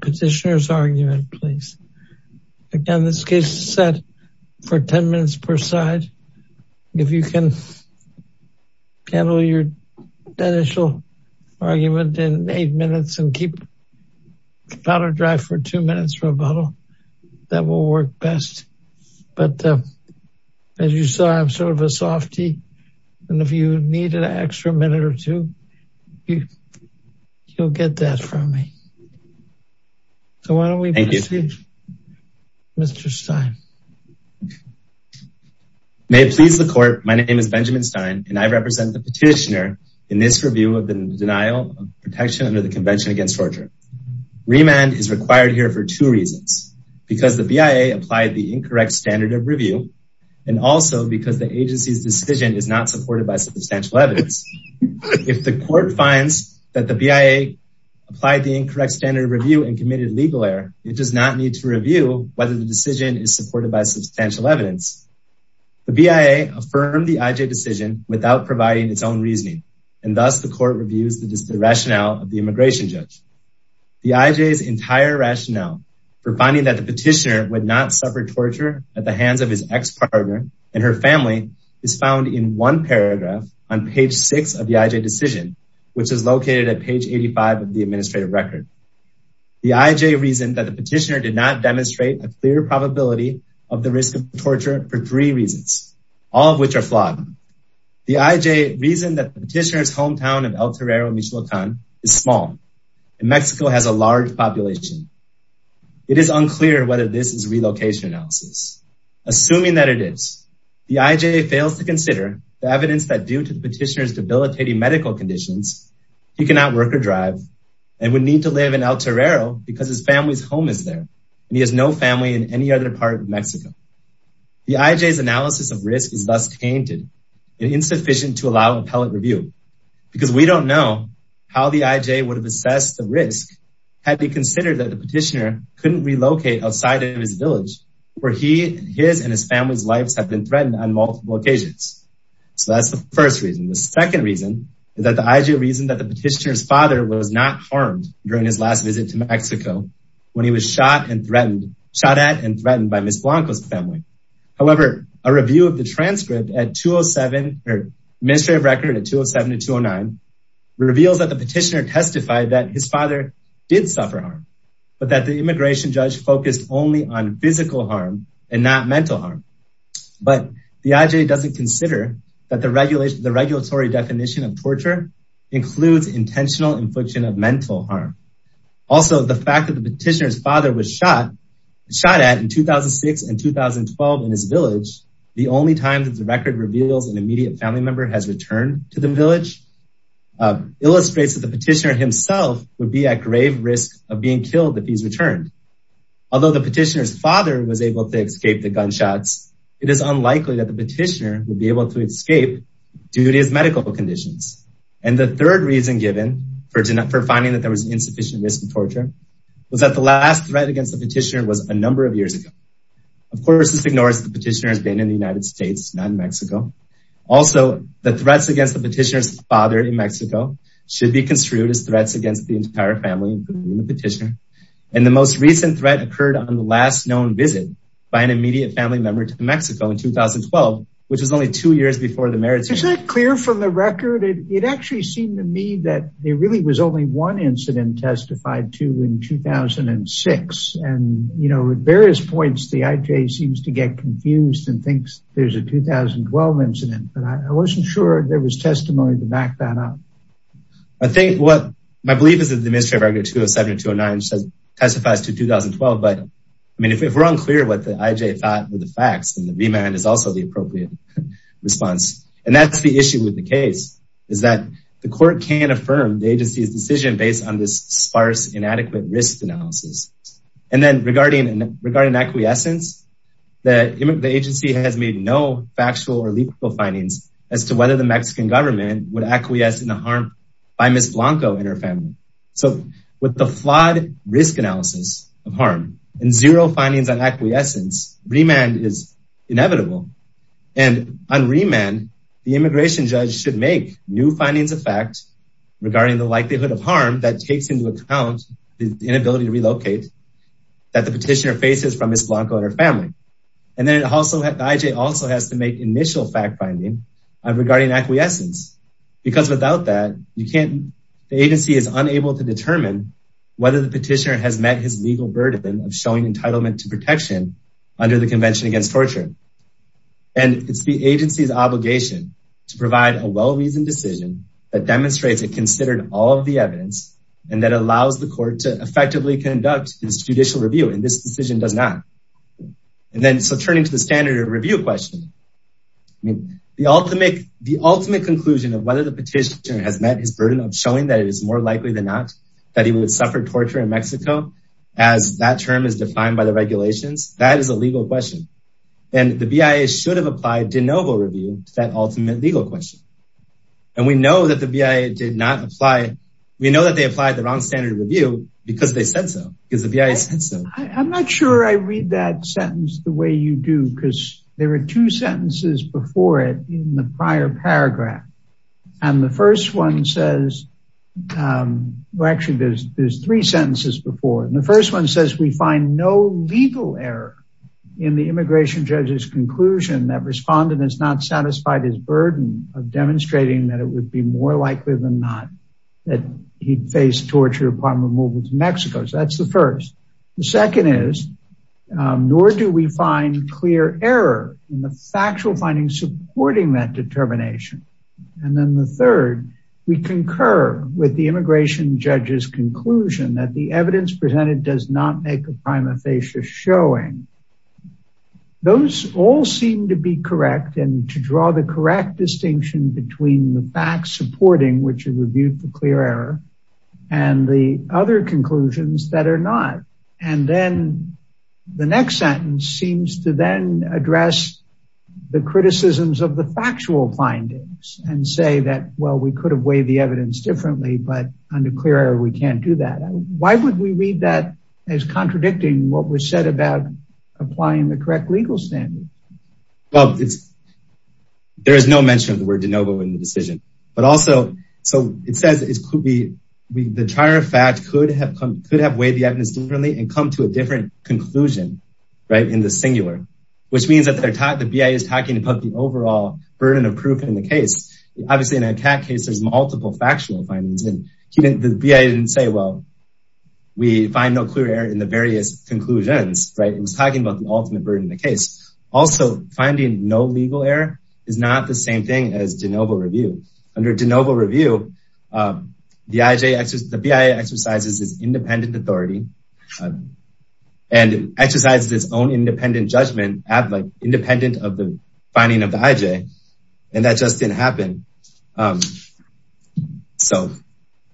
Petitioner's argument please again this case is set for 10 minutes per side if you can handle your initial argument in eight minutes and keep powder dry for two minutes for a bottle that will work best but as you saw I'm sort of a softy and if you needed an extra minute or two you you'll get that from me so why don't we thank you Mr. Stein may it please the court my name is Benjamin Stein and I represent the petitioner in this review of the denial of protection under the convention against torture remand is required here for two reasons because the BIA applied the incorrect standard of review and also because the agency's decision is not supported by substantial evidence if the court finds that the BIA applied the incorrect standard review and committed legal error it does not need to review whether the decision is supported by substantial evidence the BIA affirmed the IJ decision without providing its own reasoning and thus the court reviews the rationale of the immigration judge the IJ's entire rationale for finding that the petitioner would not suffer torture at the hands of his ex-partner and her family is found in one paragraph on page six of the IJ decision which is located at page 85 of the administrative record the IJ reasoned that the petitioner did not demonstrate a clear probability of the risk of torture for three reasons all of which are flawed the IJ reason that the petitioner's hometown of El Torero Michoacan is small and Mexico has a large population it is unclear whether this is relocation analysis assuming that it is the IJ fails to consider the evidence that due to the petitioner's debilitating medical conditions he cannot work or drive and would need to live in El Torero because his family's home is there and he has no family in any other part of Mexico the IJ's analysis of risk is thus tainted and insufficient to allow appellate review because we don't know how the IJ would have assessed the risk had he considered that the petitioner couldn't relocate outside of his village where he his and his family's lives have been threatened on multiple occasions so that's the first reason the second reason is that the IJ reason that the petitioner's father was not harmed during his last visit to Mexico when he was shot and threatened shot at and threatened by Ms. Blanco's family however a review of the transcript at 207 or administrative record at 207 to 209 reveals that the petitioner testified that his father did suffer harm but that the immigration judge focused only on physical harm and not mental harm but the IJ doesn't consider that the regulation the regulatory definition of torture includes intentional infliction of mental harm also the fact that the petitioner's father was shot shot at in 2006 and 2012 in his village the only time that the record reveals an immediate family member has returned to the village illustrates that the petitioner himself would be at grave risk of being killed if he's returned although the petitioner's father was able to escape the gunshots it is unlikely that the petitioner would be able to escape due to his medical conditions and the third reason given for for finding that there was insufficient risk of torture was that the last threat against the petitioner was a number of years ago of course this ignores the petitioner has been in the United States not in Mexico also the threats against the petitioner's father in Mexico should be construed as threats against the entire family petitioner and the most recent threat occurred on the last known visit by an immediate family member to Mexico in 2012 which was only two years before the merits is that clear from the record it actually seemed to me that there really was only one incident testified to in 2006 and you know at various points the IJ seems to get confused and thinks there's a 2012 incident but I wasn't sure there was testimony to back that up I think what my belief is that the Ministry of Agriculture 207 or 209 testifies to 2012 but I mean if we're unclear what the IJ thought were the facts and the remand is also the appropriate response and that's the issue with the case is that the court can't affirm the agency's decision based on this sparse inadequate risk analysis and then regarding and regarding acquiescence the agency has made no factual or lethal findings as to whether the Mexican government would acquiesce in the harm by Ms. Blanco and her family so with the flawed risk analysis of harm and zero findings on acquiescence remand is inevitable and on remand the immigration judge should make new findings of regarding the likelihood of harm that takes into account the inability to relocate that the petitioner faces from Ms. Blanco and her family and then also the IJ also has to make initial fact finding regarding acquiescence because without that you can't the agency is unable to determine whether the petitioner has met his legal burden of showing entitlement to protection under the convention against torture and it's the agency's obligation to provide a well-reasoned that demonstrates it considered all of the evidence and that allows the court to effectively conduct his judicial review and this decision does not and then so turning to the standard review question I mean the ultimate the ultimate conclusion of whether the petitioner has met his burden of showing that it is more likely than not that he would suffer torture in Mexico as that term is defined by the regulations that is a legal question and the BIA should have applied de novo review to that ultimate legal question and we know that the BIA did not apply we know that they applied the wrong standard review because they said so because the BIA said so I'm not sure I read that sentence the way you do because there are two sentences before it in the prior paragraph and the first one says well actually there's there's three sentences before and the first one says we find no legal error in the immigration judge's conclusion that respondent is not satisfied his burden of demonstrating that it would be more likely than not that he'd face torture upon removal to Mexico so that's the first the second is nor do we find clear error in the factual findings supporting that determination and then the third we concur with the immigration judge's conclusion that the evidence presented does not make a prima facie showing those all seem to be correct and to draw the correct distinction between the facts supporting which is reviewed for clear error and the other conclusions that are not and then the next sentence seems to then address the criticisms of the factual findings and say that well we could have weighed the evidence differently but under clear error we can't do that why would we read that as contradicting what was said about applying the correct legal standard well it's there is no mention of the word de novo in the decision but also so it says it could be the trier fact could have come could have weighed the evidence differently and come to a different conclusion right in the singular which means that they're taught the BIA is talking about the overall burden of proof in the case obviously in a cat case there's multiple factual findings and the BIA didn't say well we find no clear error in the various conclusions right it was talking about the ultimate burden in the case also finding no legal error is not the same thing as de novo review under de novo review the IJ the BIA exercises its independent authority and exercises its own independent judgment at like independent of the finding of the IJ and that just didn't happen um so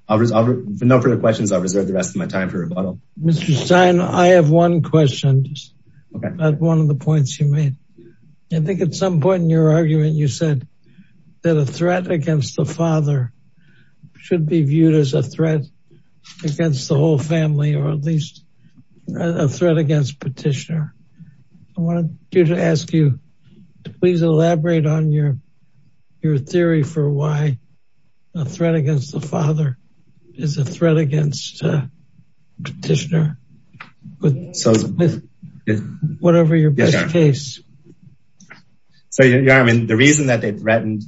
I'll know for the questions I'll reserve the rest of my time for rebuttal. Mr. Stein I have one question just okay that's one of the points you made I think at some point in your argument you said that a threat against the father should be viewed as a threat against the whole family or at least a threat against petitioner wanted you to ask you to please elaborate on your your theory for why a threat against the father is a threat against petitioner but so with whatever your best case. So yeah I mean the reason that they threatened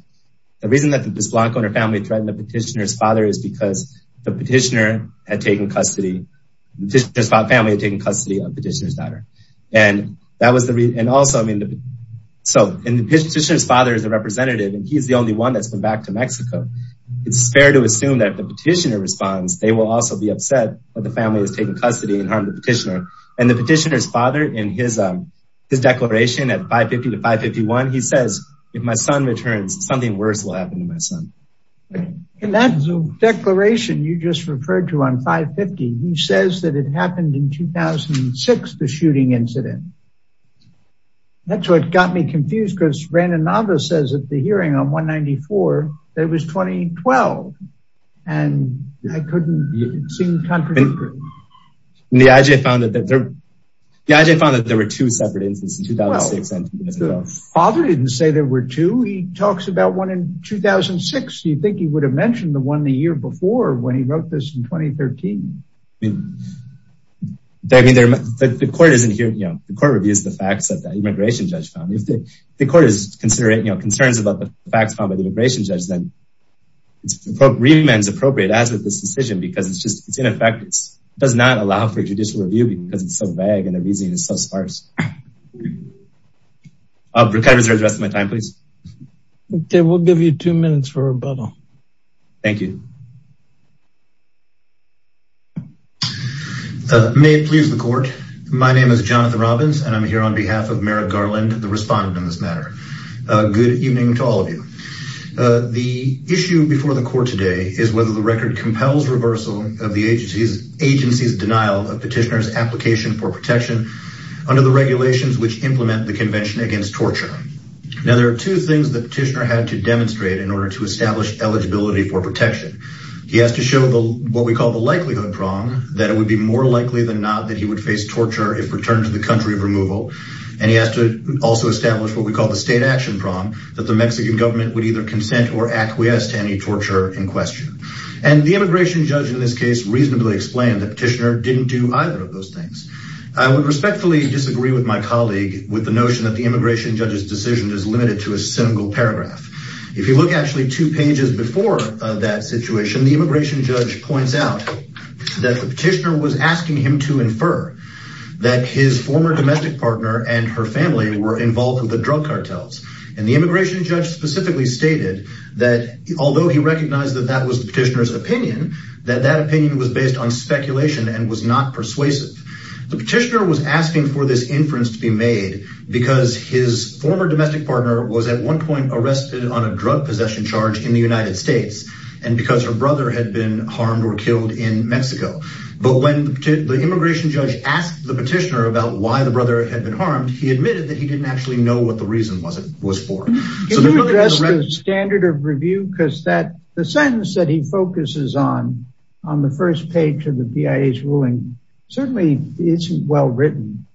the reason that the Blanco and her family threatened the petitioner's father is because the petitioner had taken custody petitioner's family had taken custody of petitioner's daughter and that was the reason and also I mean so in the petitioner's father is a representative and he's the only one that's been back to Mexico it's fair to assume that the petitioner responds they will also be upset that the family has taken custody and harmed the petitioner and the petitioner's father in his um his declaration at 550 to 551 he says if my son returns something worse will happen to my son and that's a declaration you just referred to on 550 he says that it happened in 2006 the shooting incident that's what got me confused because Brandon Navas says at the hearing on 194 that it was 2012 and I couldn't seem to contradict the IJ found that there the IJ found that there were two separate incidents in 2006 father didn't say there were two he talks about one in 2006 you think he would have mentioned the year before when he wrote this in 2013. I mean there the court isn't here you know the court reviews the facts that the immigration judge found if the the court is considering you know concerns about the facts found by the immigration judge then it's appropriate as with this decision because it's just it's ineffective it does not allow for judicial review because it's so vague and the reasoning is so sparse uh recovers the rest of my time please okay we'll give you two minutes for rebuttal thank you may it please the court my name is Jonathan Robbins and I'm here on behalf of Merrick Garland the respondent in this matter uh good evening to all of you uh the issue before the court today is whether the record compels reversal of the agency's agency's denial of petitioner's application for protection under the regulations which implement the convention against torture now there are two things the petitioner had to demonstrate in order to establish eligibility for protection he has to show the what we call the likelihood prong that it would be more likely than not that he would face torture if returned to the country of removal and he has to also establish what we call the state action prom that the Mexican government would either consent or acquiesce to any torture in question and the immigration judge in this case reasonably explained the petitioner didn't do either of those things I would respectfully disagree with my colleague with the notion that the immigration judge's decision is limited to a single paragraph if you look actually two pages before that situation the immigration judge points out that the petitioner was asking him to infer that his former domestic partner and her family were involved with the drug cartels and the immigration judge specifically stated that although he recognized that that was the petitioner's opinion that that opinion was on speculation and was not persuasive the petitioner was asking for this inference to be made because his former domestic partner was at one point arrested on a drug possession charge in the United States and because her brother had been harmed or killed in Mexico but when the immigration judge asked the petitioner about why the brother had been harmed he admitted that he didn't actually know what the reason was it was for the standard of review because that sentence that he focuses on on the first page of the BIA's ruling certainly isn't well written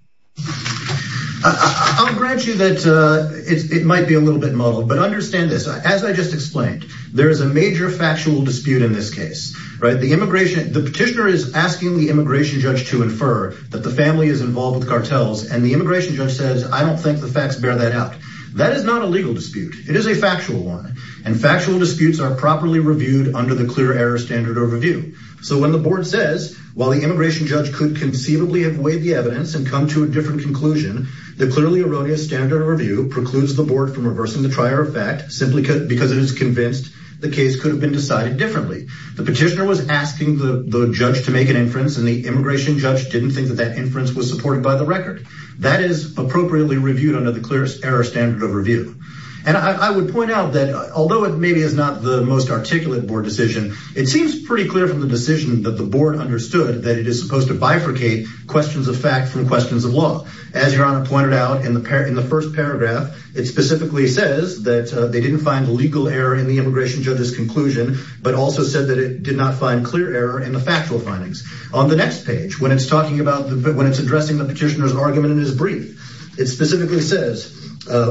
I'll grant you that it might be a little bit muddled but understand this as I just explained there is a major factual dispute in this case right the immigration the petitioner is asking the immigration judge to infer that the family is involved with cartels and the immigration judge says I don't think the facts bear that out that is not a legal dispute it is a factual one and reviewed under the clear error standard overview so when the board says while the immigration judge could conceivably avoid the evidence and come to a different conclusion the clearly erroneous standard review precludes the board from reversing the trier of fact simply because it is convinced the case could have been decided differently the petitioner was asking the judge to make an inference and the immigration judge didn't think that that inference was supported by the record that is appropriately reviewed under the clear error standard of review and I would point out although it maybe is not the most articulate board decision it seems pretty clear from the decision that the board understood that it is supposed to bifurcate questions of fact from questions of law as your honor pointed out in the in the first paragraph it specifically says that they didn't find legal error in the immigration judge's conclusion but also said that it did not find clear error in the factual findings on the next page when it's talking about the when it's addressing the petitioner's argument in his brief it specifically says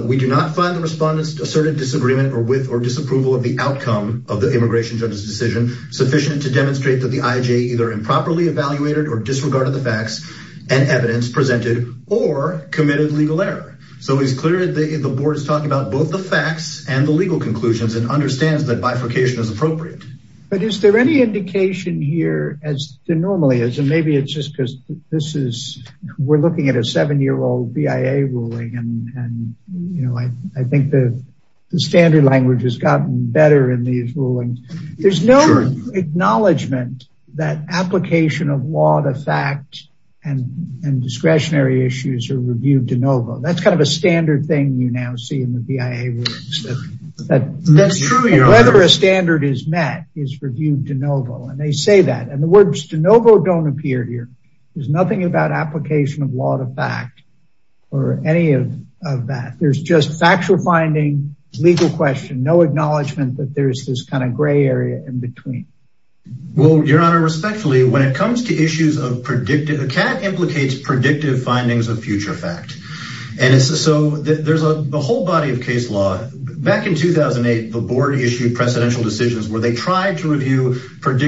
we do not find the respondents asserted disagreement or with or disapproval of the outcome of the immigration judge's decision sufficient to demonstrate that the ij either improperly evaluated or disregarded the facts and evidence presented or committed legal error so it's clear that the board is talking about both the facts and the legal conclusions and understands that bifurcation is appropriate but is there any indication here as there normally is and maybe it's just because this is we're the standard language has gotten better in these rulings there's no acknowledgement that application of law to fact and and discretionary issues are reviewed de novo that's kind of a standard thing you now see in the bia rules that that's true whether a standard is met is reviewed de novo and they say that and the words de novo don't appear here there's nothing about application of law to fact or any of that there's just factual finding legal question no acknowledgement that there's this kind of gray area in between well your honor respectfully when it comes to issues of predictive a cat implicates predictive findings of future fact and so there's a the whole body of case law back in 2008 the board issued precedential decisions where they tried to review and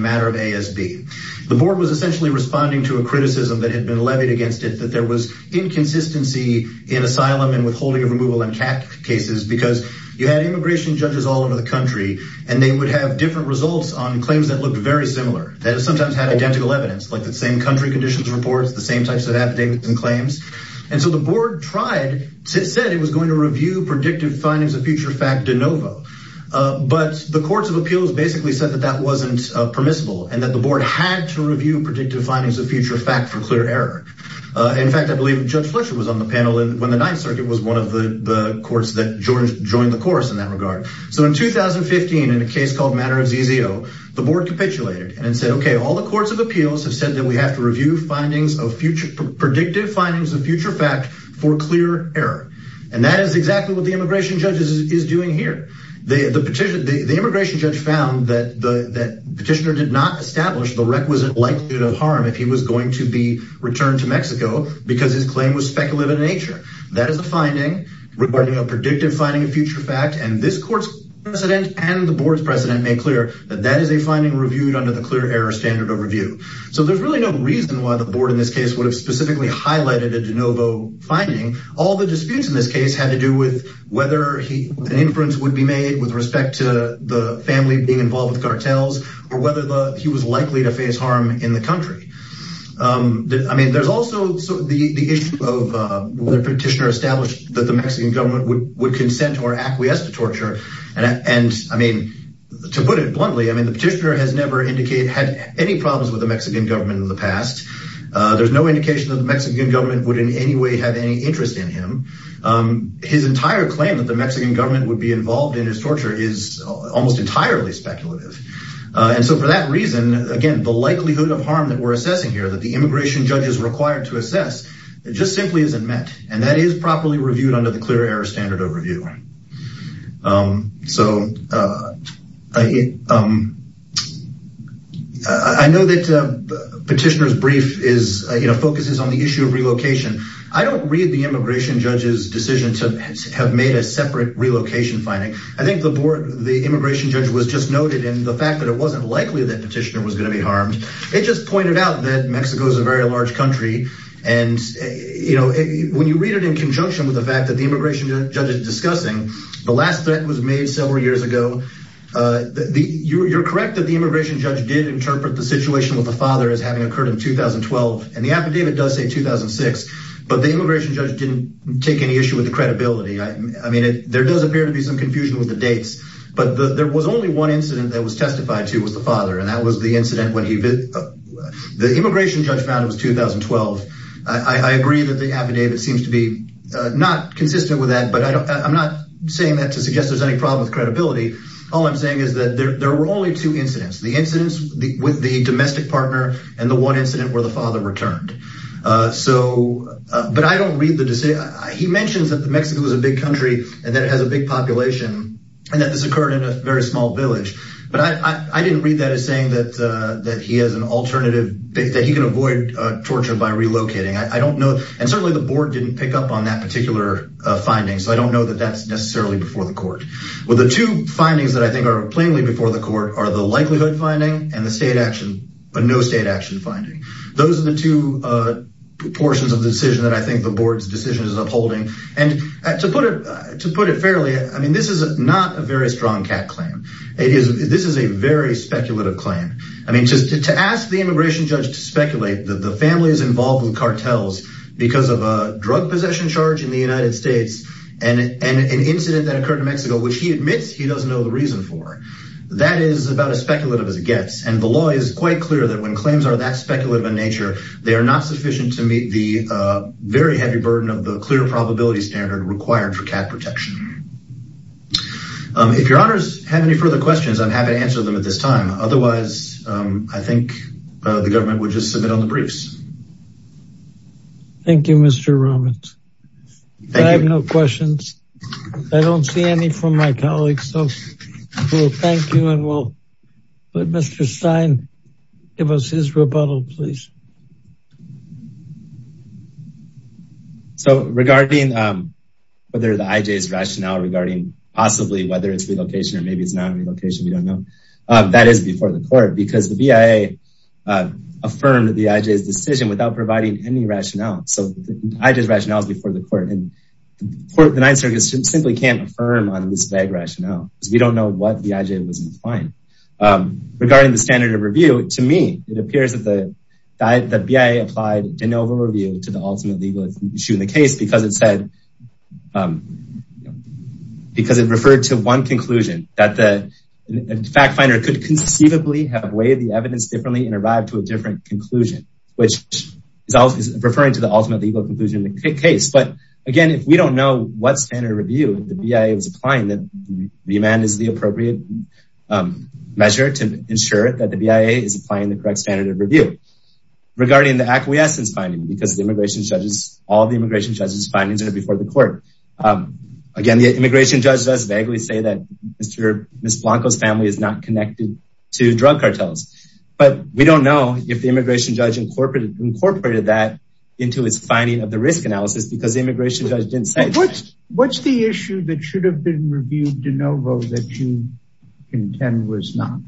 matter of asb the board was essentially responding to a criticism that had been levied against it that there was inconsistency in asylum and withholding of removal and cat cases because you had immigration judges all over the country and they would have different results on claims that looked very similar that sometimes had identical evidence like the same country conditions reports the same types of affidavits and claims and so the board tried to said it was going to review predictive findings of future fact de novo but the courts of appeals basically said that that permissible and that the board had to review predictive findings of future fact for clear error in fact i believe judge fletcher was on the panel and when the ninth circuit was one of the the courts that joined joined the course in that regard so in 2015 in a case called matter of zzo the board capitulated and said okay all the courts of appeals have said that we have to review findings of future predictive findings of future fact for clear error and that is exactly what the found that the that petitioner did not establish the requisite likelihood of harm if he was going to be returned to mexico because his claim was speculative in nature that is the finding regarding a predictive finding of future fact and this court's precedent and the board's precedent made clear that that is a finding reviewed under the clear error standard of review so there's really no reason why the board in this case would have specifically highlighted a de novo finding all the disputes in this case had to do with whether he an inference would be made with respect to the family being involved with cartels or whether the he was likely to face harm in the country um i mean there's also so the the issue of uh the petitioner established that the mexican government would would consent or acquiesce to torture and and i mean to put it bluntly i mean the petitioner has never indicate had any problems with the mexican government in the past uh there's no indication that the mexican government would in any way have any interest in him um his entire claim that the mexican government would be involved in his torture is almost entirely speculative and so for that reason again the likelihood of harm that we're assessing here that the immigration judge is required to assess it just simply isn't met and that is properly reviewed under the clear error standard of review um so uh i um i know that uh petitioner's brief is you know focuses on the issue of relocation i don't read the immigration judge's decision to have made a separate relocation finding i think the board the immigration judge was just noted in the fact that it wasn't likely that petitioner was going to be harmed it just pointed out that mexico is a very large country and you know when you read it in conjunction with the fact that the immigration judge is discussing the last threat was made several years ago uh the you're correct that the immigration judge did interpret the situation with the father as having occurred in 2012 and the affidavit does say 2006 but the immigration judge didn't take any issue with the credibility i mean it there does appear to be some confusion with the dates but there was only one incident that was testified to was the father and that was the incident when he the immigration judge found it was 2012 i agree that the affidavit seems to be not consistent with that but i'm not saying that to suggest there's any problem with credibility all i'm saying is that there were only two incidents the incidents with the domestic partner and the one incident where the father returned uh so uh but i don't read the decision he mentions that the mexico is a big country and that it has a big population and that this occurred in a very small village but i i didn't read that as saying that uh that he has an alternative that he can avoid uh torture by relocating i don't know and certainly the board didn't pick up on that particular uh finding so i don't know that that's necessarily before the court well the two findings that i think are plainly before the court are the uh proportions of the decision that i think the board's decision is upholding and to put it to put it fairly i mean this is not a very strong cat claim it is this is a very speculative claim i mean just to ask the immigration judge to speculate that the family is involved with cartels because of a drug possession charge in the united states and and an incident that occurred in mexico which he admits he doesn't know the reason for that is about as speculative as it gets and the they are not sufficient to meet the uh very heavy burden of the clear probability standard required for cat protection um if your honors have any further questions i'm happy to answer them at this time otherwise um i think uh the government would just submit on the briefs thank you mr romans i have no questions i don't see any from my colleagues so well thank you and we'll let mr stein give us his rebuttal please so regarding um whether the ij's rationale regarding possibly whether it's relocation or maybe it's not relocation we don't know uh that is before the court because the via affirmed the ij's decision without providing any rationale so i just rationale is before the court and the ninth circuit simply can't affirm on this bag rationale because we don't know what the ij was implying regarding the standard of review to me it appears that the that the bia applied de novo review to the ultimate legal issue in the case because it said um because it referred to one conclusion that the fact finder could conceivably have weighed the evidence differently and arrived to a different conclusion which is always referring to the ultimate legal conclusion in the case but again if we don't know what standard review the bia was applying that the demand is the appropriate um measure to ensure that the bia is applying the correct standard of review regarding the acquiescence finding because the immigration judges all the immigration judges findings are before the court um again the immigration judge does vaguely say that mr miss blanco's family is not connected to drug cartels but we don't know if the immigration judge incorporated incorporated that into his finding of the risk analysis because the immigration judge didn't say what's what's the issue that should have been reviewed de novo that you contend was not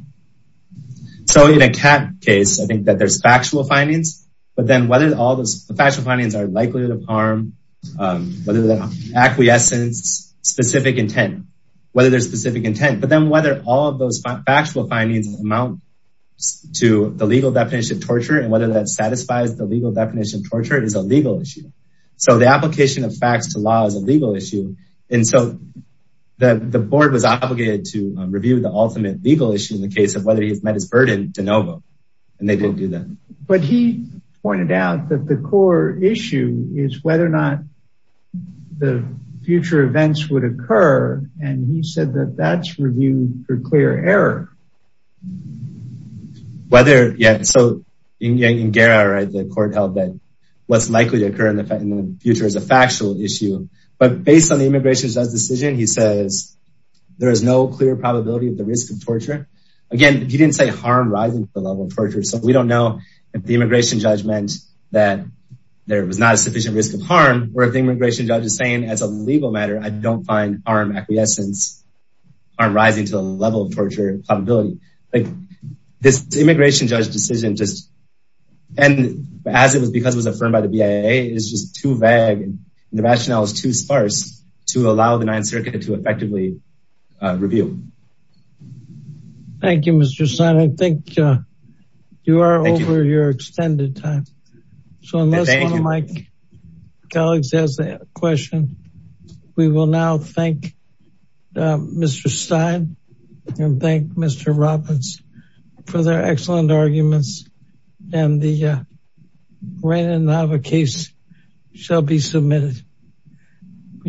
so in a cat case i think that there's factual findings but then whether all those factual findings are likelihood of harm um whether the acquiescence specific intent whether there's specific intent but then whether all of those factual findings amount to the legal definition torture and whether that satisfies the legal definition torture is a legal issue so the application of facts to law is a legal issue and so that the board was obligated to review the ultimate legal issue in the case of whether he's met his burden de novo and they didn't do that but he pointed out that the core issue is whether or not the future events would occur and he said that that's reviewed for clear error um whether yeah so in gara right the court held that what's likely to occur in the in the future is a factual issue but based on the immigration judge decision he says there is no clear probability of the risk of torture again he didn't say harm rising to the level of torture so we don't know if the immigration judge meant that there was not a sufficient risk of harm or if the immigration judge is saying as a legal matter i don't find harm acquiescence are rising to the level of like this immigration judge decision just and as it was because it was affirmed by the bia is just too vague and the rationale is too sparse to allow the ninth circuit to effectively review thank you mr son i think uh you are over your extended time so unless one of my robins for their excellent arguments and the uh random nava case shall be submitted